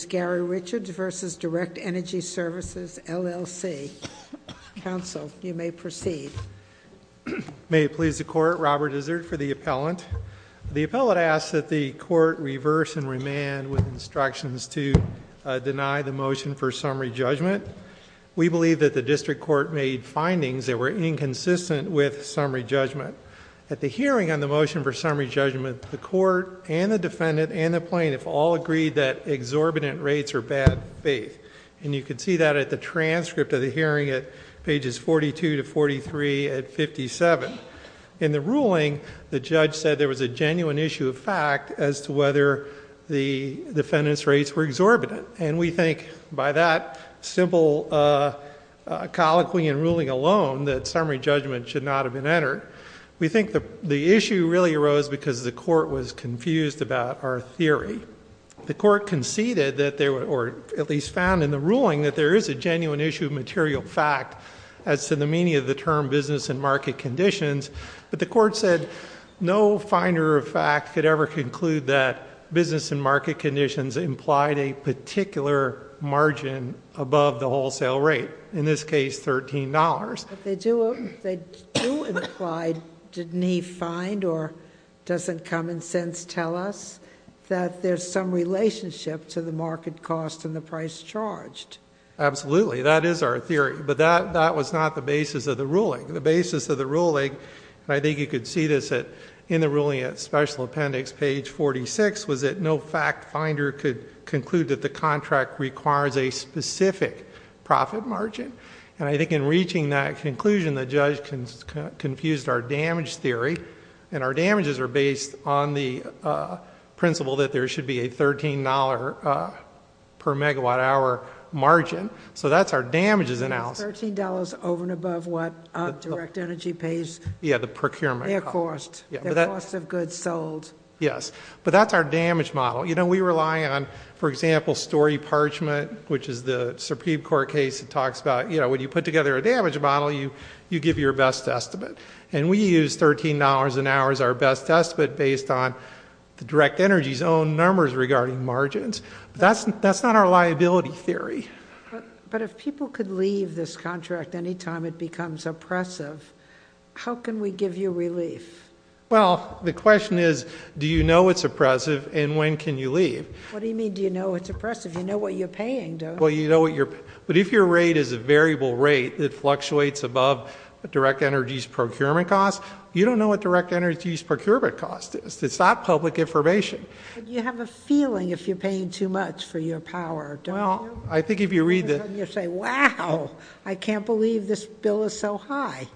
L.L.C., counsel, you may proceed. May it please the court, Robert Izzard for the appellant. The appellant asks that the court reverse and remand with instructions to deny the motion for summary judgment. We believe that the district court made findings that were inconsistent with summary judgment. At the hearing on the motion for summary judgment, the court and the defendant and the plaintiff all agreed that exorbitant rates are bad faith. And you can see that at the transcript of the hearing at pages 42 to 43 at 57. In the ruling, the judge said there was a genuine issue of fact as to whether the defendant's rates were exorbitant. And we think by that simple colloquy and ruling alone that summary judgment should not have been entered. We think the issue really arose because the court was confused about our theory. The court conceded that there were, or at least found in the ruling, that there is a genuine issue of material fact as to the meaning of the term business and market conditions. But the court said no finder of fact could ever conclude that business and market conditions implied a particular margin above the wholesale rate, in this case $13. But they do imply, didn't he find or doesn't common sense tell us, that there's some relationship to the market cost and the price charged? Absolutely, that is our theory. But that was not the basis of the ruling. The basis of the ruling, and I think you could see this in the ruling at special appendix page 46, was that no fact finder could conclude that the contract requires a specific profit margin. And I think in reaching that conclusion, the judge confused our damage theory. And our damages are based on the principle that there should be a $13 per megawatt hour margin. So that's our damages analysis. $13 over and above what direct energy pays? Yeah, the procurement. Their cost. Their cost of goods sold. Yes, but that's our damage model. You know, we rely on, for example, story parchment, which is the Supreme Court case that talks about, you know, when you put together a damage model, you give your best estimate. And we use $13 an hour as our best estimate based on the direct energy's own numbers regarding margins. That's not our liability theory. But if people could leave this contract anytime it becomes oppressive, how can we give you relief? Well, the question is, do you know it's oppressive, and when can you leave? What do you mean, do you know it's oppressive? You know what you're paying, don't you? Well, you know what you're paying. But if your rate is a variable rate that fluctuates above direct energy's procurement cost, you don't know what direct energy's procurement cost is. It's not public information. Well, I think if you read the- You say, wow, I can't believe this bill is so high.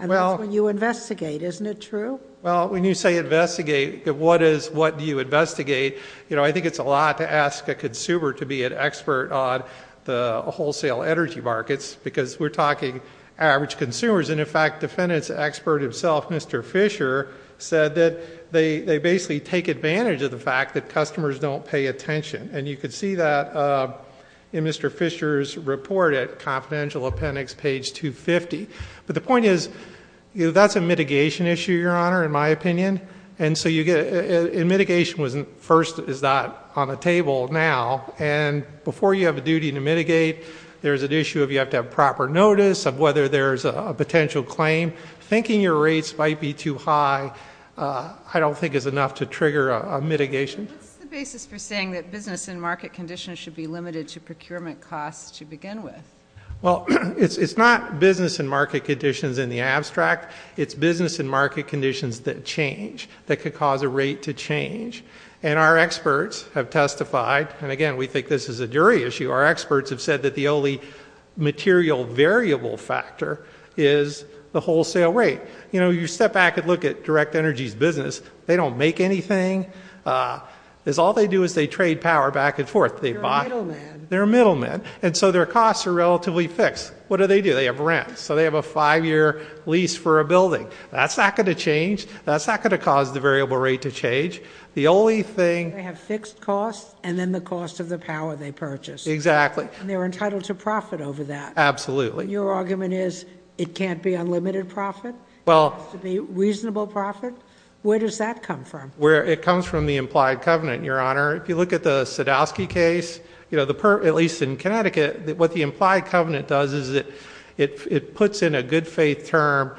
And that's when you investigate. Isn't it true? Well, when you say investigate, what do you investigate? You know, I think it's a lot to ask a consumer to be an expert on the wholesale energy markets because we're talking average consumers. And, in fact, defendant's expert himself, Mr. Fisher, said that they basically take advantage of the fact that customers don't pay attention. And you could see that in Mr. Fisher's report at Confidential Appendix, page 250. But the point is, that's a mitigation issue, Your Honor, in my opinion. And so mitigation first is not on the table now. And before you have a duty to mitigate, there's an issue of you have to have proper notice of whether there's a potential claim. Thinking your rates might be too high I don't think is enough to trigger a mitigation. What's the basis for saying that business and market conditions should be limited to procurement costs to begin with? Well, it's not business and market conditions in the abstract. It's business and market conditions that change, that could cause a rate to change. And our experts have testified, and, again, we think this is a jury issue, our experts have said that the only material variable factor is the wholesale rate. You step back and look at Direct Energy's business. They don't make anything. All they do is they trade power back and forth. They buy- They're middlemen. They're middlemen. And so their costs are relatively fixed. What do they do? They have rent. So they have a five-year lease for a building. That's not going to change. That's not going to cause the variable rate to change. The only thing- They have fixed costs and then the cost of the power they purchase. Exactly. And they're entitled to profit over that. Absolutely. Your argument is it can't be unlimited profit? Well- It has to be reasonable profit? Where does that come from? It comes from the implied covenant, Your Honor. If you look at the Sadowski case, at least in Connecticut, what the implied covenant does is it puts in a good faith term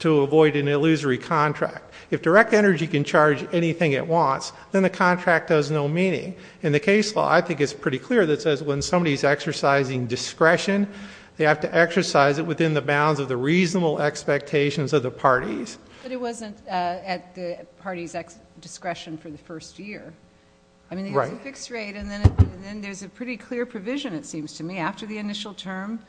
to avoid an illusory contract. If Direct Energy can charge anything it wants, then the contract does no meaning. In the case law, I think it's pretty clear that says when somebody's exercising discretion, they have to exercise it within the bounds of the reasonable expectations of the parties. But it wasn't at the party's discretion for the first year. Right. I mean, they have a fixed rate and then there's a pretty clear provision, it seems to me, after the initial term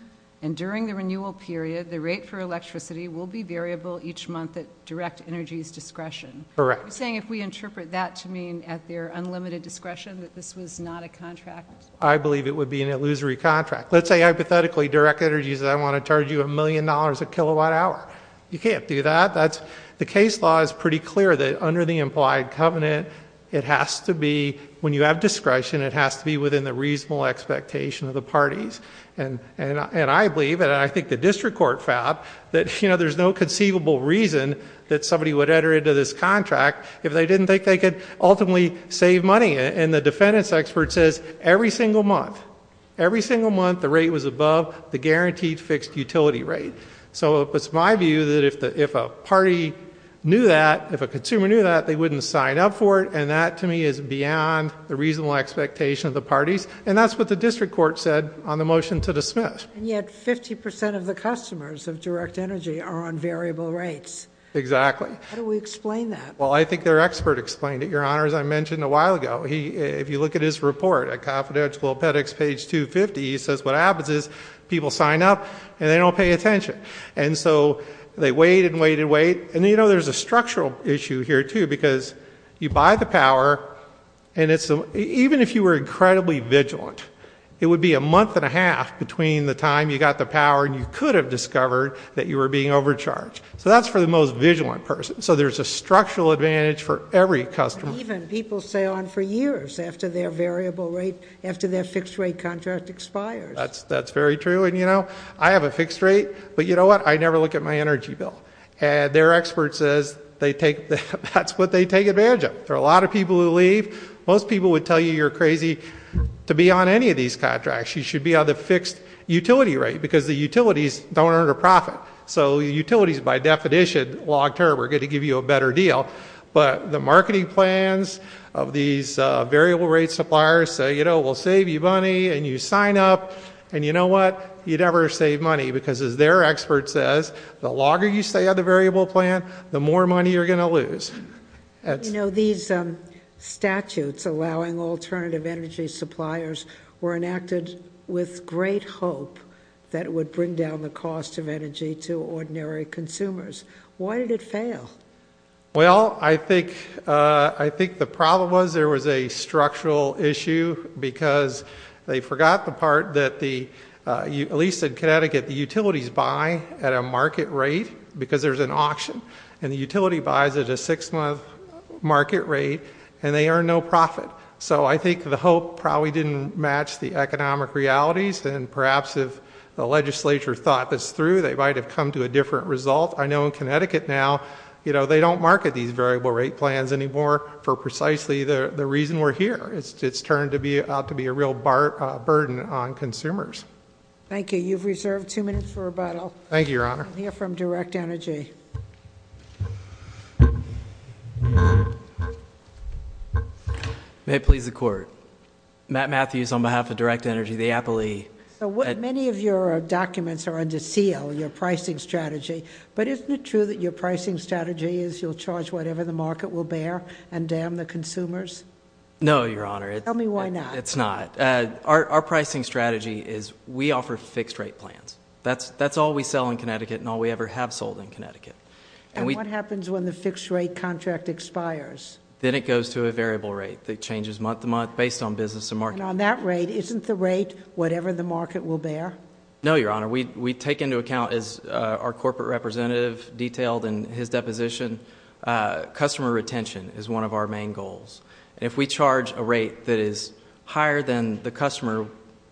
and during the renewal period, the rate for electricity will be variable each month at Direct Energy's discretion. Correct. So you're saying if we interpret that to mean at their unlimited discretion that this was not a contract? I believe it would be an illusory contract. Let's say, hypothetically, Direct Energy says I want to charge you a million dollars a kilowatt hour. You can't do that. The case law is pretty clear that under the implied covenant, it has to be, when you have discretion, it has to be within the reasonable expectation of the parties. And I believe, and I think the district court found, that there's no conceivable reason that somebody would enter into this contract if they didn't think they could ultimately save money. And the defendant's expert says every single month, every single month the rate was above the guaranteed fixed utility rate. So it's my view that if a party knew that, if a consumer knew that, they wouldn't sign up for it. And that, to me, is beyond the reasonable expectation of the parties. And that's what the district court said on the motion to dismiss. And yet 50% of the customers of Direct Energy are on variable rates. Exactly. How do we explain that? Well, I think their expert explained it, Your Honors. I mentioned a while ago, if you look at his report at Confidential Pet Ex, page 250, he says what happens is people sign up and they don't pay attention. And so they wait and wait and wait. And, you know, there's a structural issue here, too, because you buy the power and even if you were incredibly vigilant, it would be a month and a half between the time you got the power and you could have discovered that you were being overcharged. So that's for the most vigilant person. So there's a structural advantage for every customer. Even people stay on for years after their variable rate, after their fixed rate contract expires. That's very true. And, you know, I have a fixed rate, but you know what? I never look at my energy bill. And their expert says that's what they take advantage of. There are a lot of people who leave. Most people would tell you you're crazy to be on any of these contracts. You should be on the fixed utility rate because the utilities don't earn a profit. So utilities, by definition, long term, are going to give you a better deal. But the marketing plans of these variable rate suppliers say, you know, we'll save you money, and you sign up, and you know what? You never save money because, as their expert says, the longer you stay on the variable plan, the more money you're going to lose. You know, these statutes allowing alternative energy suppliers were enacted with great hope that it would bring down the cost of energy to ordinary consumers. Why did it fail? Well, I think the problem was there was a structural issue because they forgot the part that, at least in Connecticut, the utilities buy at a market rate because there's an auction. And the utility buys at a six-month market rate, and they earn no profit. So I think the hope probably didn't match the economic realities, and perhaps if the legislature thought this through, they might have come to a different result. I know in Connecticut now, you know, they don't market these variable rate plans anymore for precisely the reason we're here. It's turned out to be a real burden on consumers. Thank you. You've reserved two minutes for rebuttal. Thank you, Your Honor. We'll hear from Direct Energy. May it please the Court. Matt Matthews on behalf of Direct Energy, the Apple E. Many of your documents are under seal, your pricing strategy, but isn't it true that your pricing strategy is you'll charge whatever the market will bear and damn the consumers? No, Your Honor. Tell me why not. It's not. Our pricing strategy is we offer fixed-rate plans. That's all we sell in Connecticut and all we ever have sold in Connecticut. And what happens when the fixed-rate contract expires? Then it goes to a variable rate that changes month to month based on business and market. And on that rate, isn't the rate whatever the market will bear? No, Your Honor. We take into account, as our corporate representative detailed in his deposition, customer retention is one of our main goals. And if we charge a rate that is higher than the customer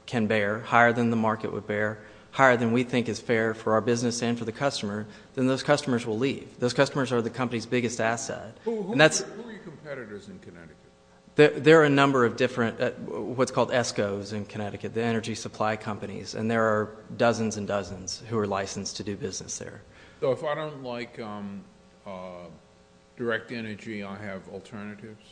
can bear, higher than the market would bear, higher than we think is fair for our business and for the customer, then those customers will leave. Those customers are the company's biggest asset. Who are your competitors in Connecticut? There are a number of different what's called ESCOs in Connecticut, the energy supply companies, and there are dozens and dozens who are licensed to do business there. So if I don't like direct energy, I have alternatives?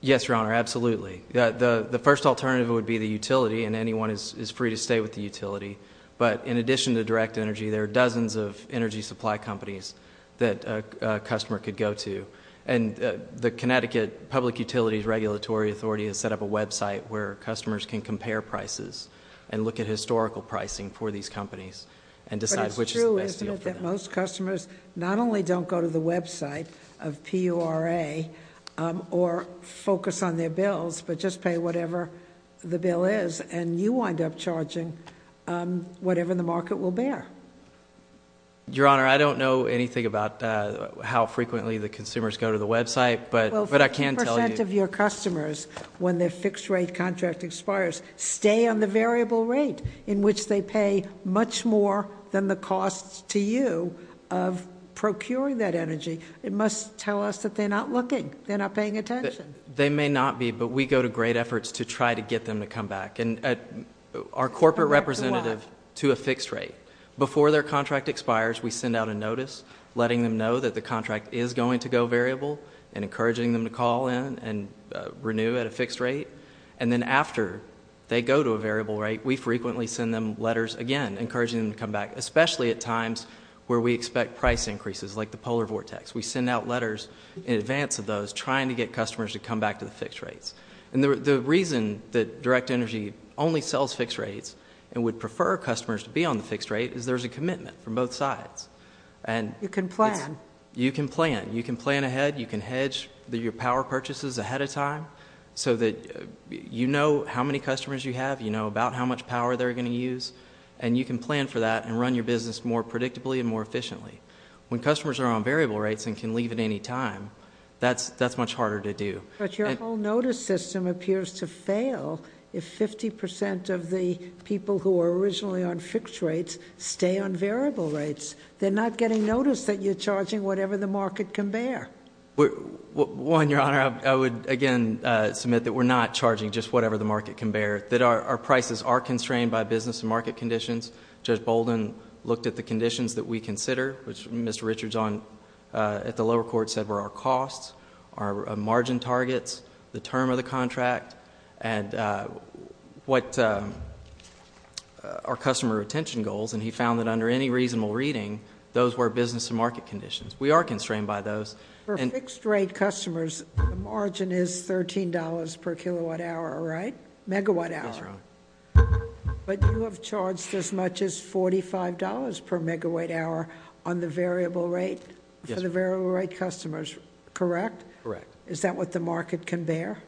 Yes, Your Honor, absolutely. The first alternative would be the utility, and anyone is free to stay with the utility. But in addition to direct energy, there are dozens of energy supply companies that a customer could go to. And the Connecticut Public Utilities Regulatory Authority has set up a website where customers can compare prices and look at historical pricing for these companies and decide which is the best deal for them. But it's true, isn't it, that most customers not only don't go to the website of PURA or focus on their bills but just pay whatever the bill is, and you wind up charging whatever the market will bear? Your Honor, I don't know anything about how frequently the consumers go to the website, but I can tell you- Well, 50% of your customers, when their fixed rate contract expires, stay on the variable rate in which they pay much more than the costs to you of procuring that energy. It must tell us that they're not looking, they're not paying attention. They may not be, but we go to great efforts to try to get them to come back. And our corporate representative to a fixed rate, before their contract expires, we send out a notice letting them know that the contract is going to go variable and encouraging them to call in and renew at a fixed rate. And then after they go to a variable rate, we frequently send them letters, again, encouraging them to come back, especially at times where we expect price increases like the polar vortex. We send out letters in advance of those trying to get customers to come back to the fixed rates. And the reason that Direct Energy only sells fixed rates and would prefer customers to be on the fixed rate is there's a commitment from both sides. You can plan. You can plan. You can plan ahead. You can hedge your power purchases ahead of time so that you know how many customers you have. You know about how much power they're going to use. And you can plan for that and run your business more predictably and more efficiently. When customers are on variable rates and can leave at any time, that's much harder to do. But your whole notice system appears to fail if 50% of the people who were originally on fixed rates stay on variable rates. They're not getting notice that you're charging whatever the market can bear. One, Your Honor, I would, again, submit that we're not charging just whatever the market can bear, that our prices are constrained by business and market conditions. Judge Bolden looked at the conditions that we consider, which Mr. Richards at the lower court said were our costs, our margin targets, the term of the contract, and our customer retention goals. And he found that under any reasonable reading, those were business and market conditions. We are constrained by those. For fixed rate customers, the margin is $13 per kilowatt hour, right? Megawatt hour. That's right. But you have charged as much as $45 per megawatt hour on the variable rate? Yes. For the variable rate customers, correct? Correct. Is that what the market can bear?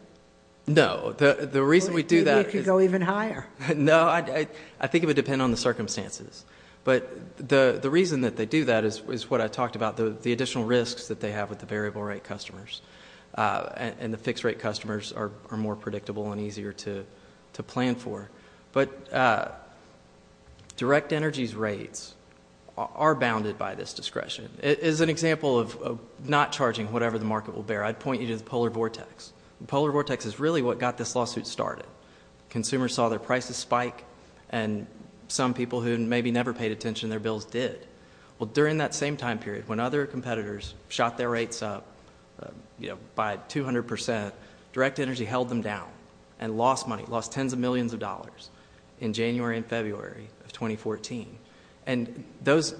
No. The reason we do that is- Maybe it could go even higher. No, I think it would depend on the circumstances. But the reason that they do that is what I talked about, the additional risks that they have with the variable rate customers. And the fixed rate customers are more predictable and easier to plan for. But direct energy's rates are bounded by this discretion. As an example of not charging whatever the market will bear, I'd point you to the polar vortex. The polar vortex is really what got this lawsuit started. Consumers saw their prices spike, and some people who maybe never paid attention to their bills did. Well, during that same time period, when other competitors shot their rates up by 200%, direct energy held them down and lost money, lost tens of millions of dollars in January and February of 2014. And those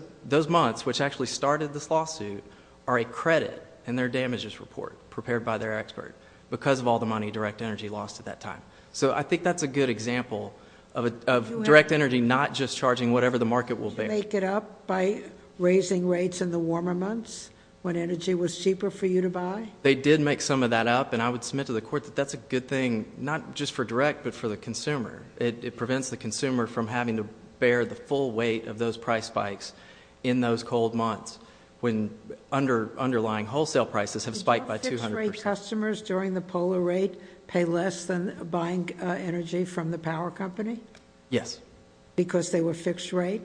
months, which actually started this lawsuit, are a credit in their damages report prepared by their expert because of all the money direct energy lost at that time. So I think that's a good example of direct energy not just charging whatever the market will bear. Did you make it up by raising rates in the warmer months when energy was cheaper for you to buy? They did make some of that up, and I would submit to the court that that's a good thing, not just for direct, but for the consumer. It prevents the consumer from having to bear the full weight of those price spikes in those cold months when underlying wholesale prices have spiked by 200%. Did customers during the polar rate pay less than buying energy from the power company? Yes. Because they were fixed rate?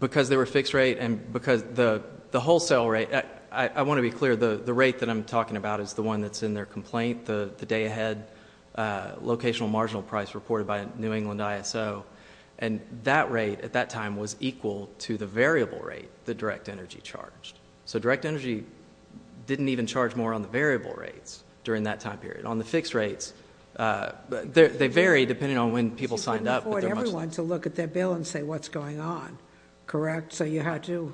Because they were fixed rate and because the wholesale rate, I want to be clear, the rate that I'm talking about is the one that's in their complaint, the day ahead locational marginal price reported by New England ISO. And that rate at that time was equal to the variable rate that direct energy charged. So direct energy didn't even charge more on the variable rates during that time period. On the fixed rates, they vary depending on when people signed up. You couldn't afford everyone to look at their bill and say what's going on, correct? So you had to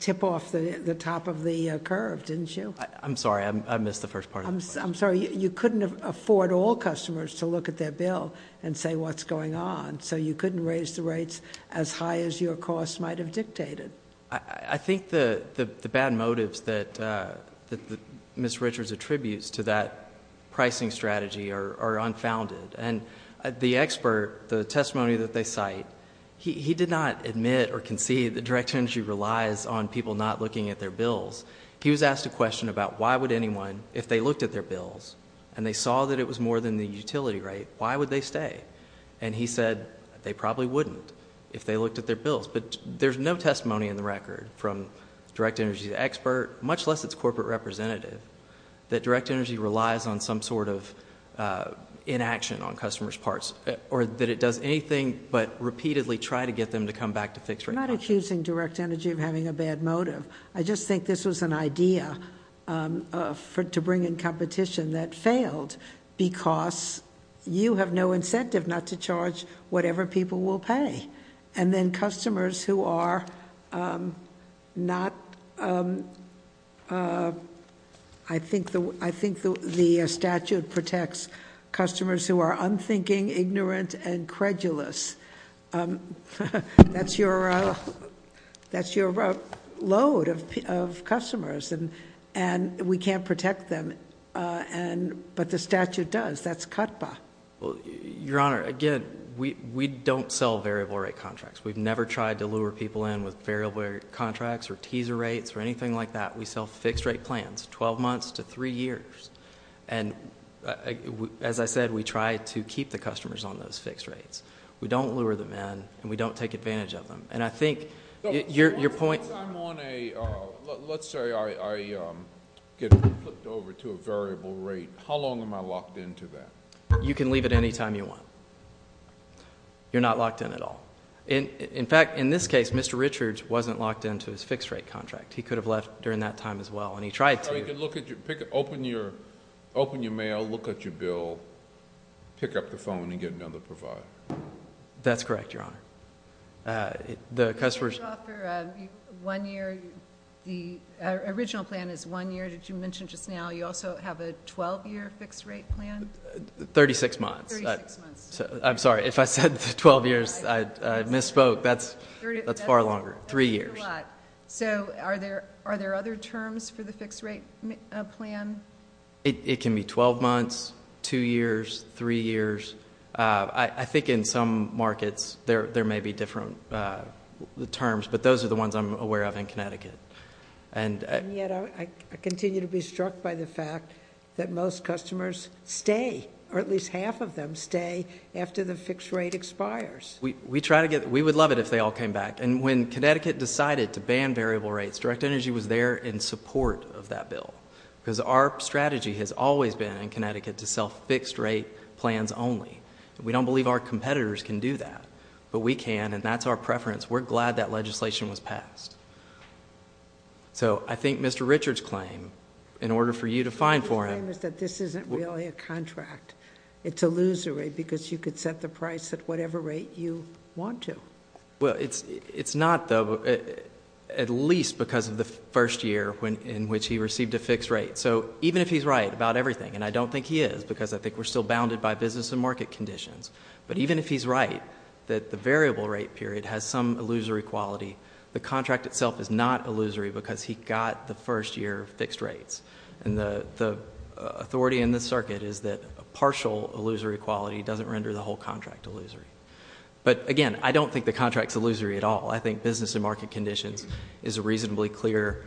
tip off the top of the curve, didn't you? I'm sorry. I missed the first part of the question. I'm sorry. You couldn't afford all customers to look at their bill and say what's going on, so you couldn't raise the rates as high as your cost might have dictated. I think the bad motives that Ms. Richards attributes to that pricing strategy are unfounded. And the expert, the testimony that they cite, he did not admit or concede that direct energy relies on people not looking at their bills. He was asked a question about why would anyone, if they looked at their bills and they saw that it was more than the utility rate, why would they stay? And he said they probably wouldn't if they looked at their bills. But there's no testimony in the record from direct energy expert, much less its corporate representative, that direct energy relies on some sort of inaction on customers' parts, or that it does anything but repeatedly try to get them to come back to fixed rates. I'm not accusing direct energy of having a bad motive. I just think this was an idea to bring in competition that failed because you have no incentive not to charge whatever people will pay. And then customers who are not, I think the statute protects customers who are unthinking, ignorant, and credulous. That's your load of customers, and we can't protect them, but the statute does. That's CUTPA. Your Honor, again, we don't sell variable rate contracts. We've never tried to lure people in with variable rate contracts or teaser rates or anything like that. We sell fixed rate plans, 12 months to three years. And as I said, we try to keep the customers on those fixed rates. We don't lure them in, and we don't take advantage of them. And I think your point— Let's say I get flipped over to a variable rate. How long am I locked into that? You can leave it any time you want. You're not locked in at all. In fact, in this case, Mr. Richards wasn't locked into his fixed rate contract. He could have left during that time as well, and he tried to. So he could open your mail, look at your bill, pick up the phone, and get another provider. That's correct, Your Honor. The original plan is one year. Did you mention just now you also have a 12-year fixed rate plan? 36 months. I'm sorry. If I said 12 years, I misspoke. That's far longer, three years. So are there other terms for the fixed rate plan? It can be 12 months, two years, three years. I think in some markets there may be different terms, but those are the ones I'm aware of in Connecticut. And yet I continue to be struck by the fact that most customers stay, or at least half of them stay, after the fixed rate expires. We would love it if they all came back. And when Connecticut decided to ban variable rates, Direct Energy was there in support of that bill because our strategy has always been in Connecticut to sell fixed rate plans only. We don't believe our competitors can do that, but we can, and that's our preference. We're glad that legislation was passed. So I think Mr. Richards' claim, in order for you to fine for him- His claim is that this isn't really a contract. It's illusory because you could set the price at whatever rate you want to. It's not, though, at least because of the first year in which he received a fixed rate. So even if he's right about everything, and I don't think he is because I think we're still bounded by business and market conditions, but even if he's right that the variable rate period has some illusory quality, the contract itself is not illusory because he got the first year fixed rates. And the authority in this circuit is that a partial illusory quality doesn't render the whole contract illusory. But, again, I don't think the contract's illusory at all. I think business and market conditions is a reasonably clear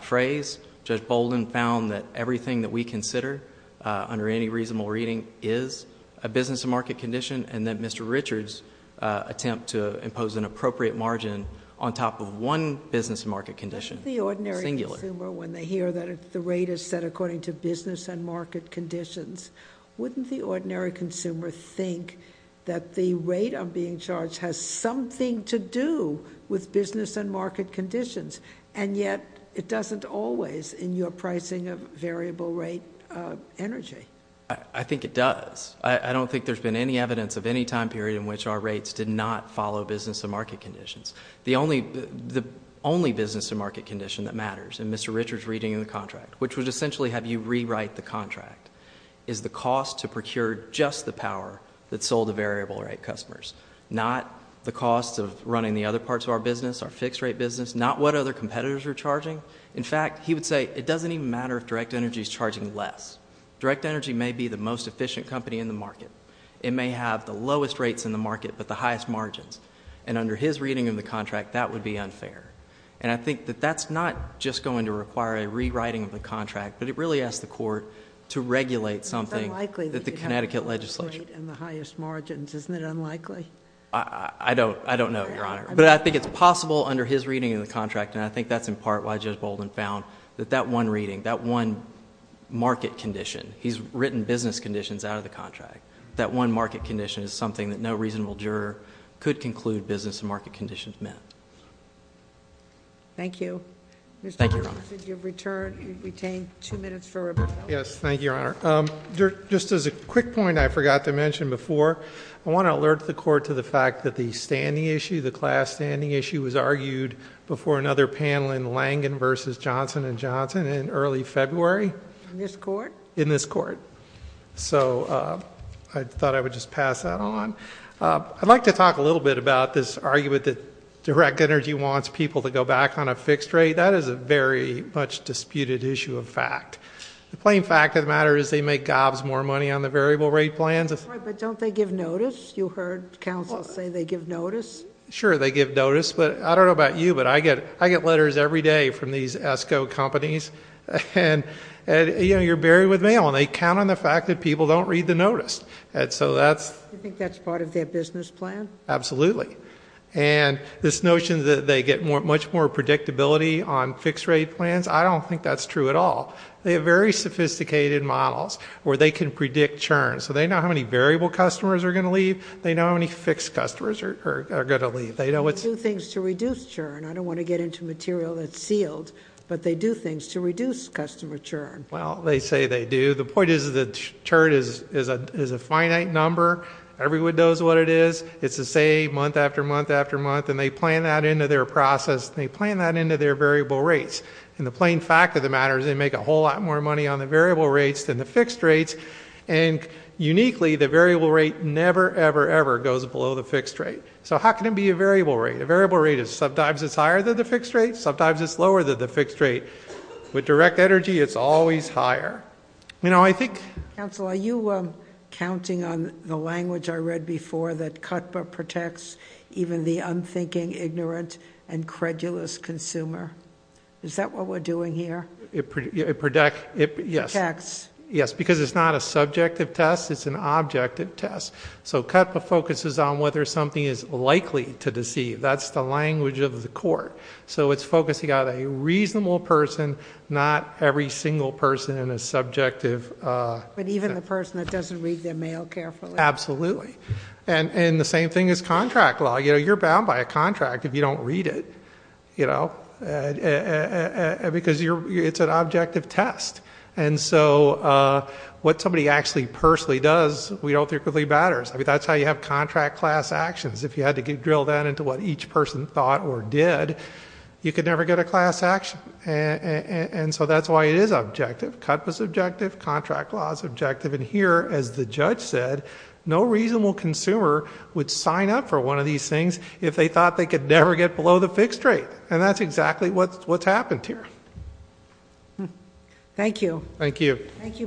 phrase. Judge Bolden found that everything that we consider under any reasonable reading is a business and market condition, and that Mr. Richards' attempt to impose an appropriate margin on top of one business and market condition, singular- Wouldn't the ordinary consumer, when they hear that the rate is set according to business and market conditions, wouldn't the ordinary consumer think that the rate of being charged has something to do with business and market conditions, and yet it doesn't always in your pricing of variable rate energy? I think it does. I don't think there's been any evidence of any time period in which our rates did not follow business and market conditions. The only business and market condition that matters in Mr. Richards' reading of the contract, which would essentially have you rewrite the contract, is the cost to procure just the power that sold the variable rate customers, not the cost of running the other parts of our business, our fixed-rate business, not what other competitors are charging. In fact, he would say it doesn't even matter if direct energy is charging less. Direct energy may be the most efficient company in the market. It may have the lowest rates in the market but the highest margins, and under his reading of the contract, that would be unfair. And I think that that's not just going to require a rewriting of the contract, but it really asks the court to regulate something that the Connecticut legislature... It's unlikely that you'd have the lowest rate and the highest margins. Isn't it unlikely? I don't know, Your Honor. But I think it's possible under his reading of the contract, and I think that's in part why Judge Bolden found that that one reading, that one market condition, he's written business conditions out of the contract. That one market condition is something that no reasonable juror could conclude business and market conditions met. Thank you. Thank you, Your Honor. Mr. Robinson, you've retained two minutes for a rebuttal. Yes, thank you, Your Honor. Just as a quick point I forgot to mention before, I want to alert the court to the fact that the standing issue, the class standing issue was argued before another panel in Langen v. Johnson & Johnson in early February. In this court? In this court. So, I thought I would just pass that on. I'd like to talk a little bit about this argument that direct energy wants people to go back on a fixed rate. That is a very much disputed issue of fact. The plain fact of the matter is they make gobs more money on the variable rate plans. That's right, but don't they give notice? You heard counsel say they give notice. Sure, they give notice, but I don't know about you, but I get letters every day from these ESCO companies, and, you know, you're buried with mail, and they count on the fact that people don't read the notice. You think that's part of their business plan? Absolutely. And this notion that they get much more predictability on fixed rate plans, I don't think that's true at all. They have very sophisticated models where they can predict churn. So they know how many variable customers are going to leave. They know how many fixed customers are going to leave. They do things to reduce churn. I don't want to get into material that's sealed, but they do things to reduce customer churn. Well, they say they do. The point is that churn is a finite number. Everyone knows what it is. It's the same month after month after month, and they plan that into their process, and they plan that into their variable rates. And the plain fact of the matter is they make a whole lot more money on the variable rates than the fixed rates, and uniquely the variable rate never, ever, ever goes below the fixed rate. So how can it be a variable rate? A variable rate is sometimes it's higher than the fixed rate, sometimes it's lower than the fixed rate. With direct energy, it's always higher. You know, I think ---- Counsel, are you counting on the language I read before, that CUTPA protects even the unthinking, ignorant, and credulous consumer? Is that what we're doing here? It protects. Yes, because it's not a subjective test. It's an objective test. So CUTPA focuses on whether something is likely to deceive. That's the language of the court. So it's focusing on a reasonable person, not every single person in a subjective ---- But even the person that doesn't read their mail carefully. Absolutely. And the same thing is contract law. You know, you're bound by a contract if you don't read it, you know, because it's an objective test. And so what somebody actually personally does, we don't think really matters. I mean, that's how you have contract class actions. If you had to drill down into what each person thought or did, you could never get a class action. And so that's why it is objective. CUTPA is objective. Contract law is objective. And here, as the judge said, no reasonable consumer would sign up for one of these things if they thought they could never get below the fixed rate. And that's exactly what's happened here. Thank you. Thank you. Thank you both.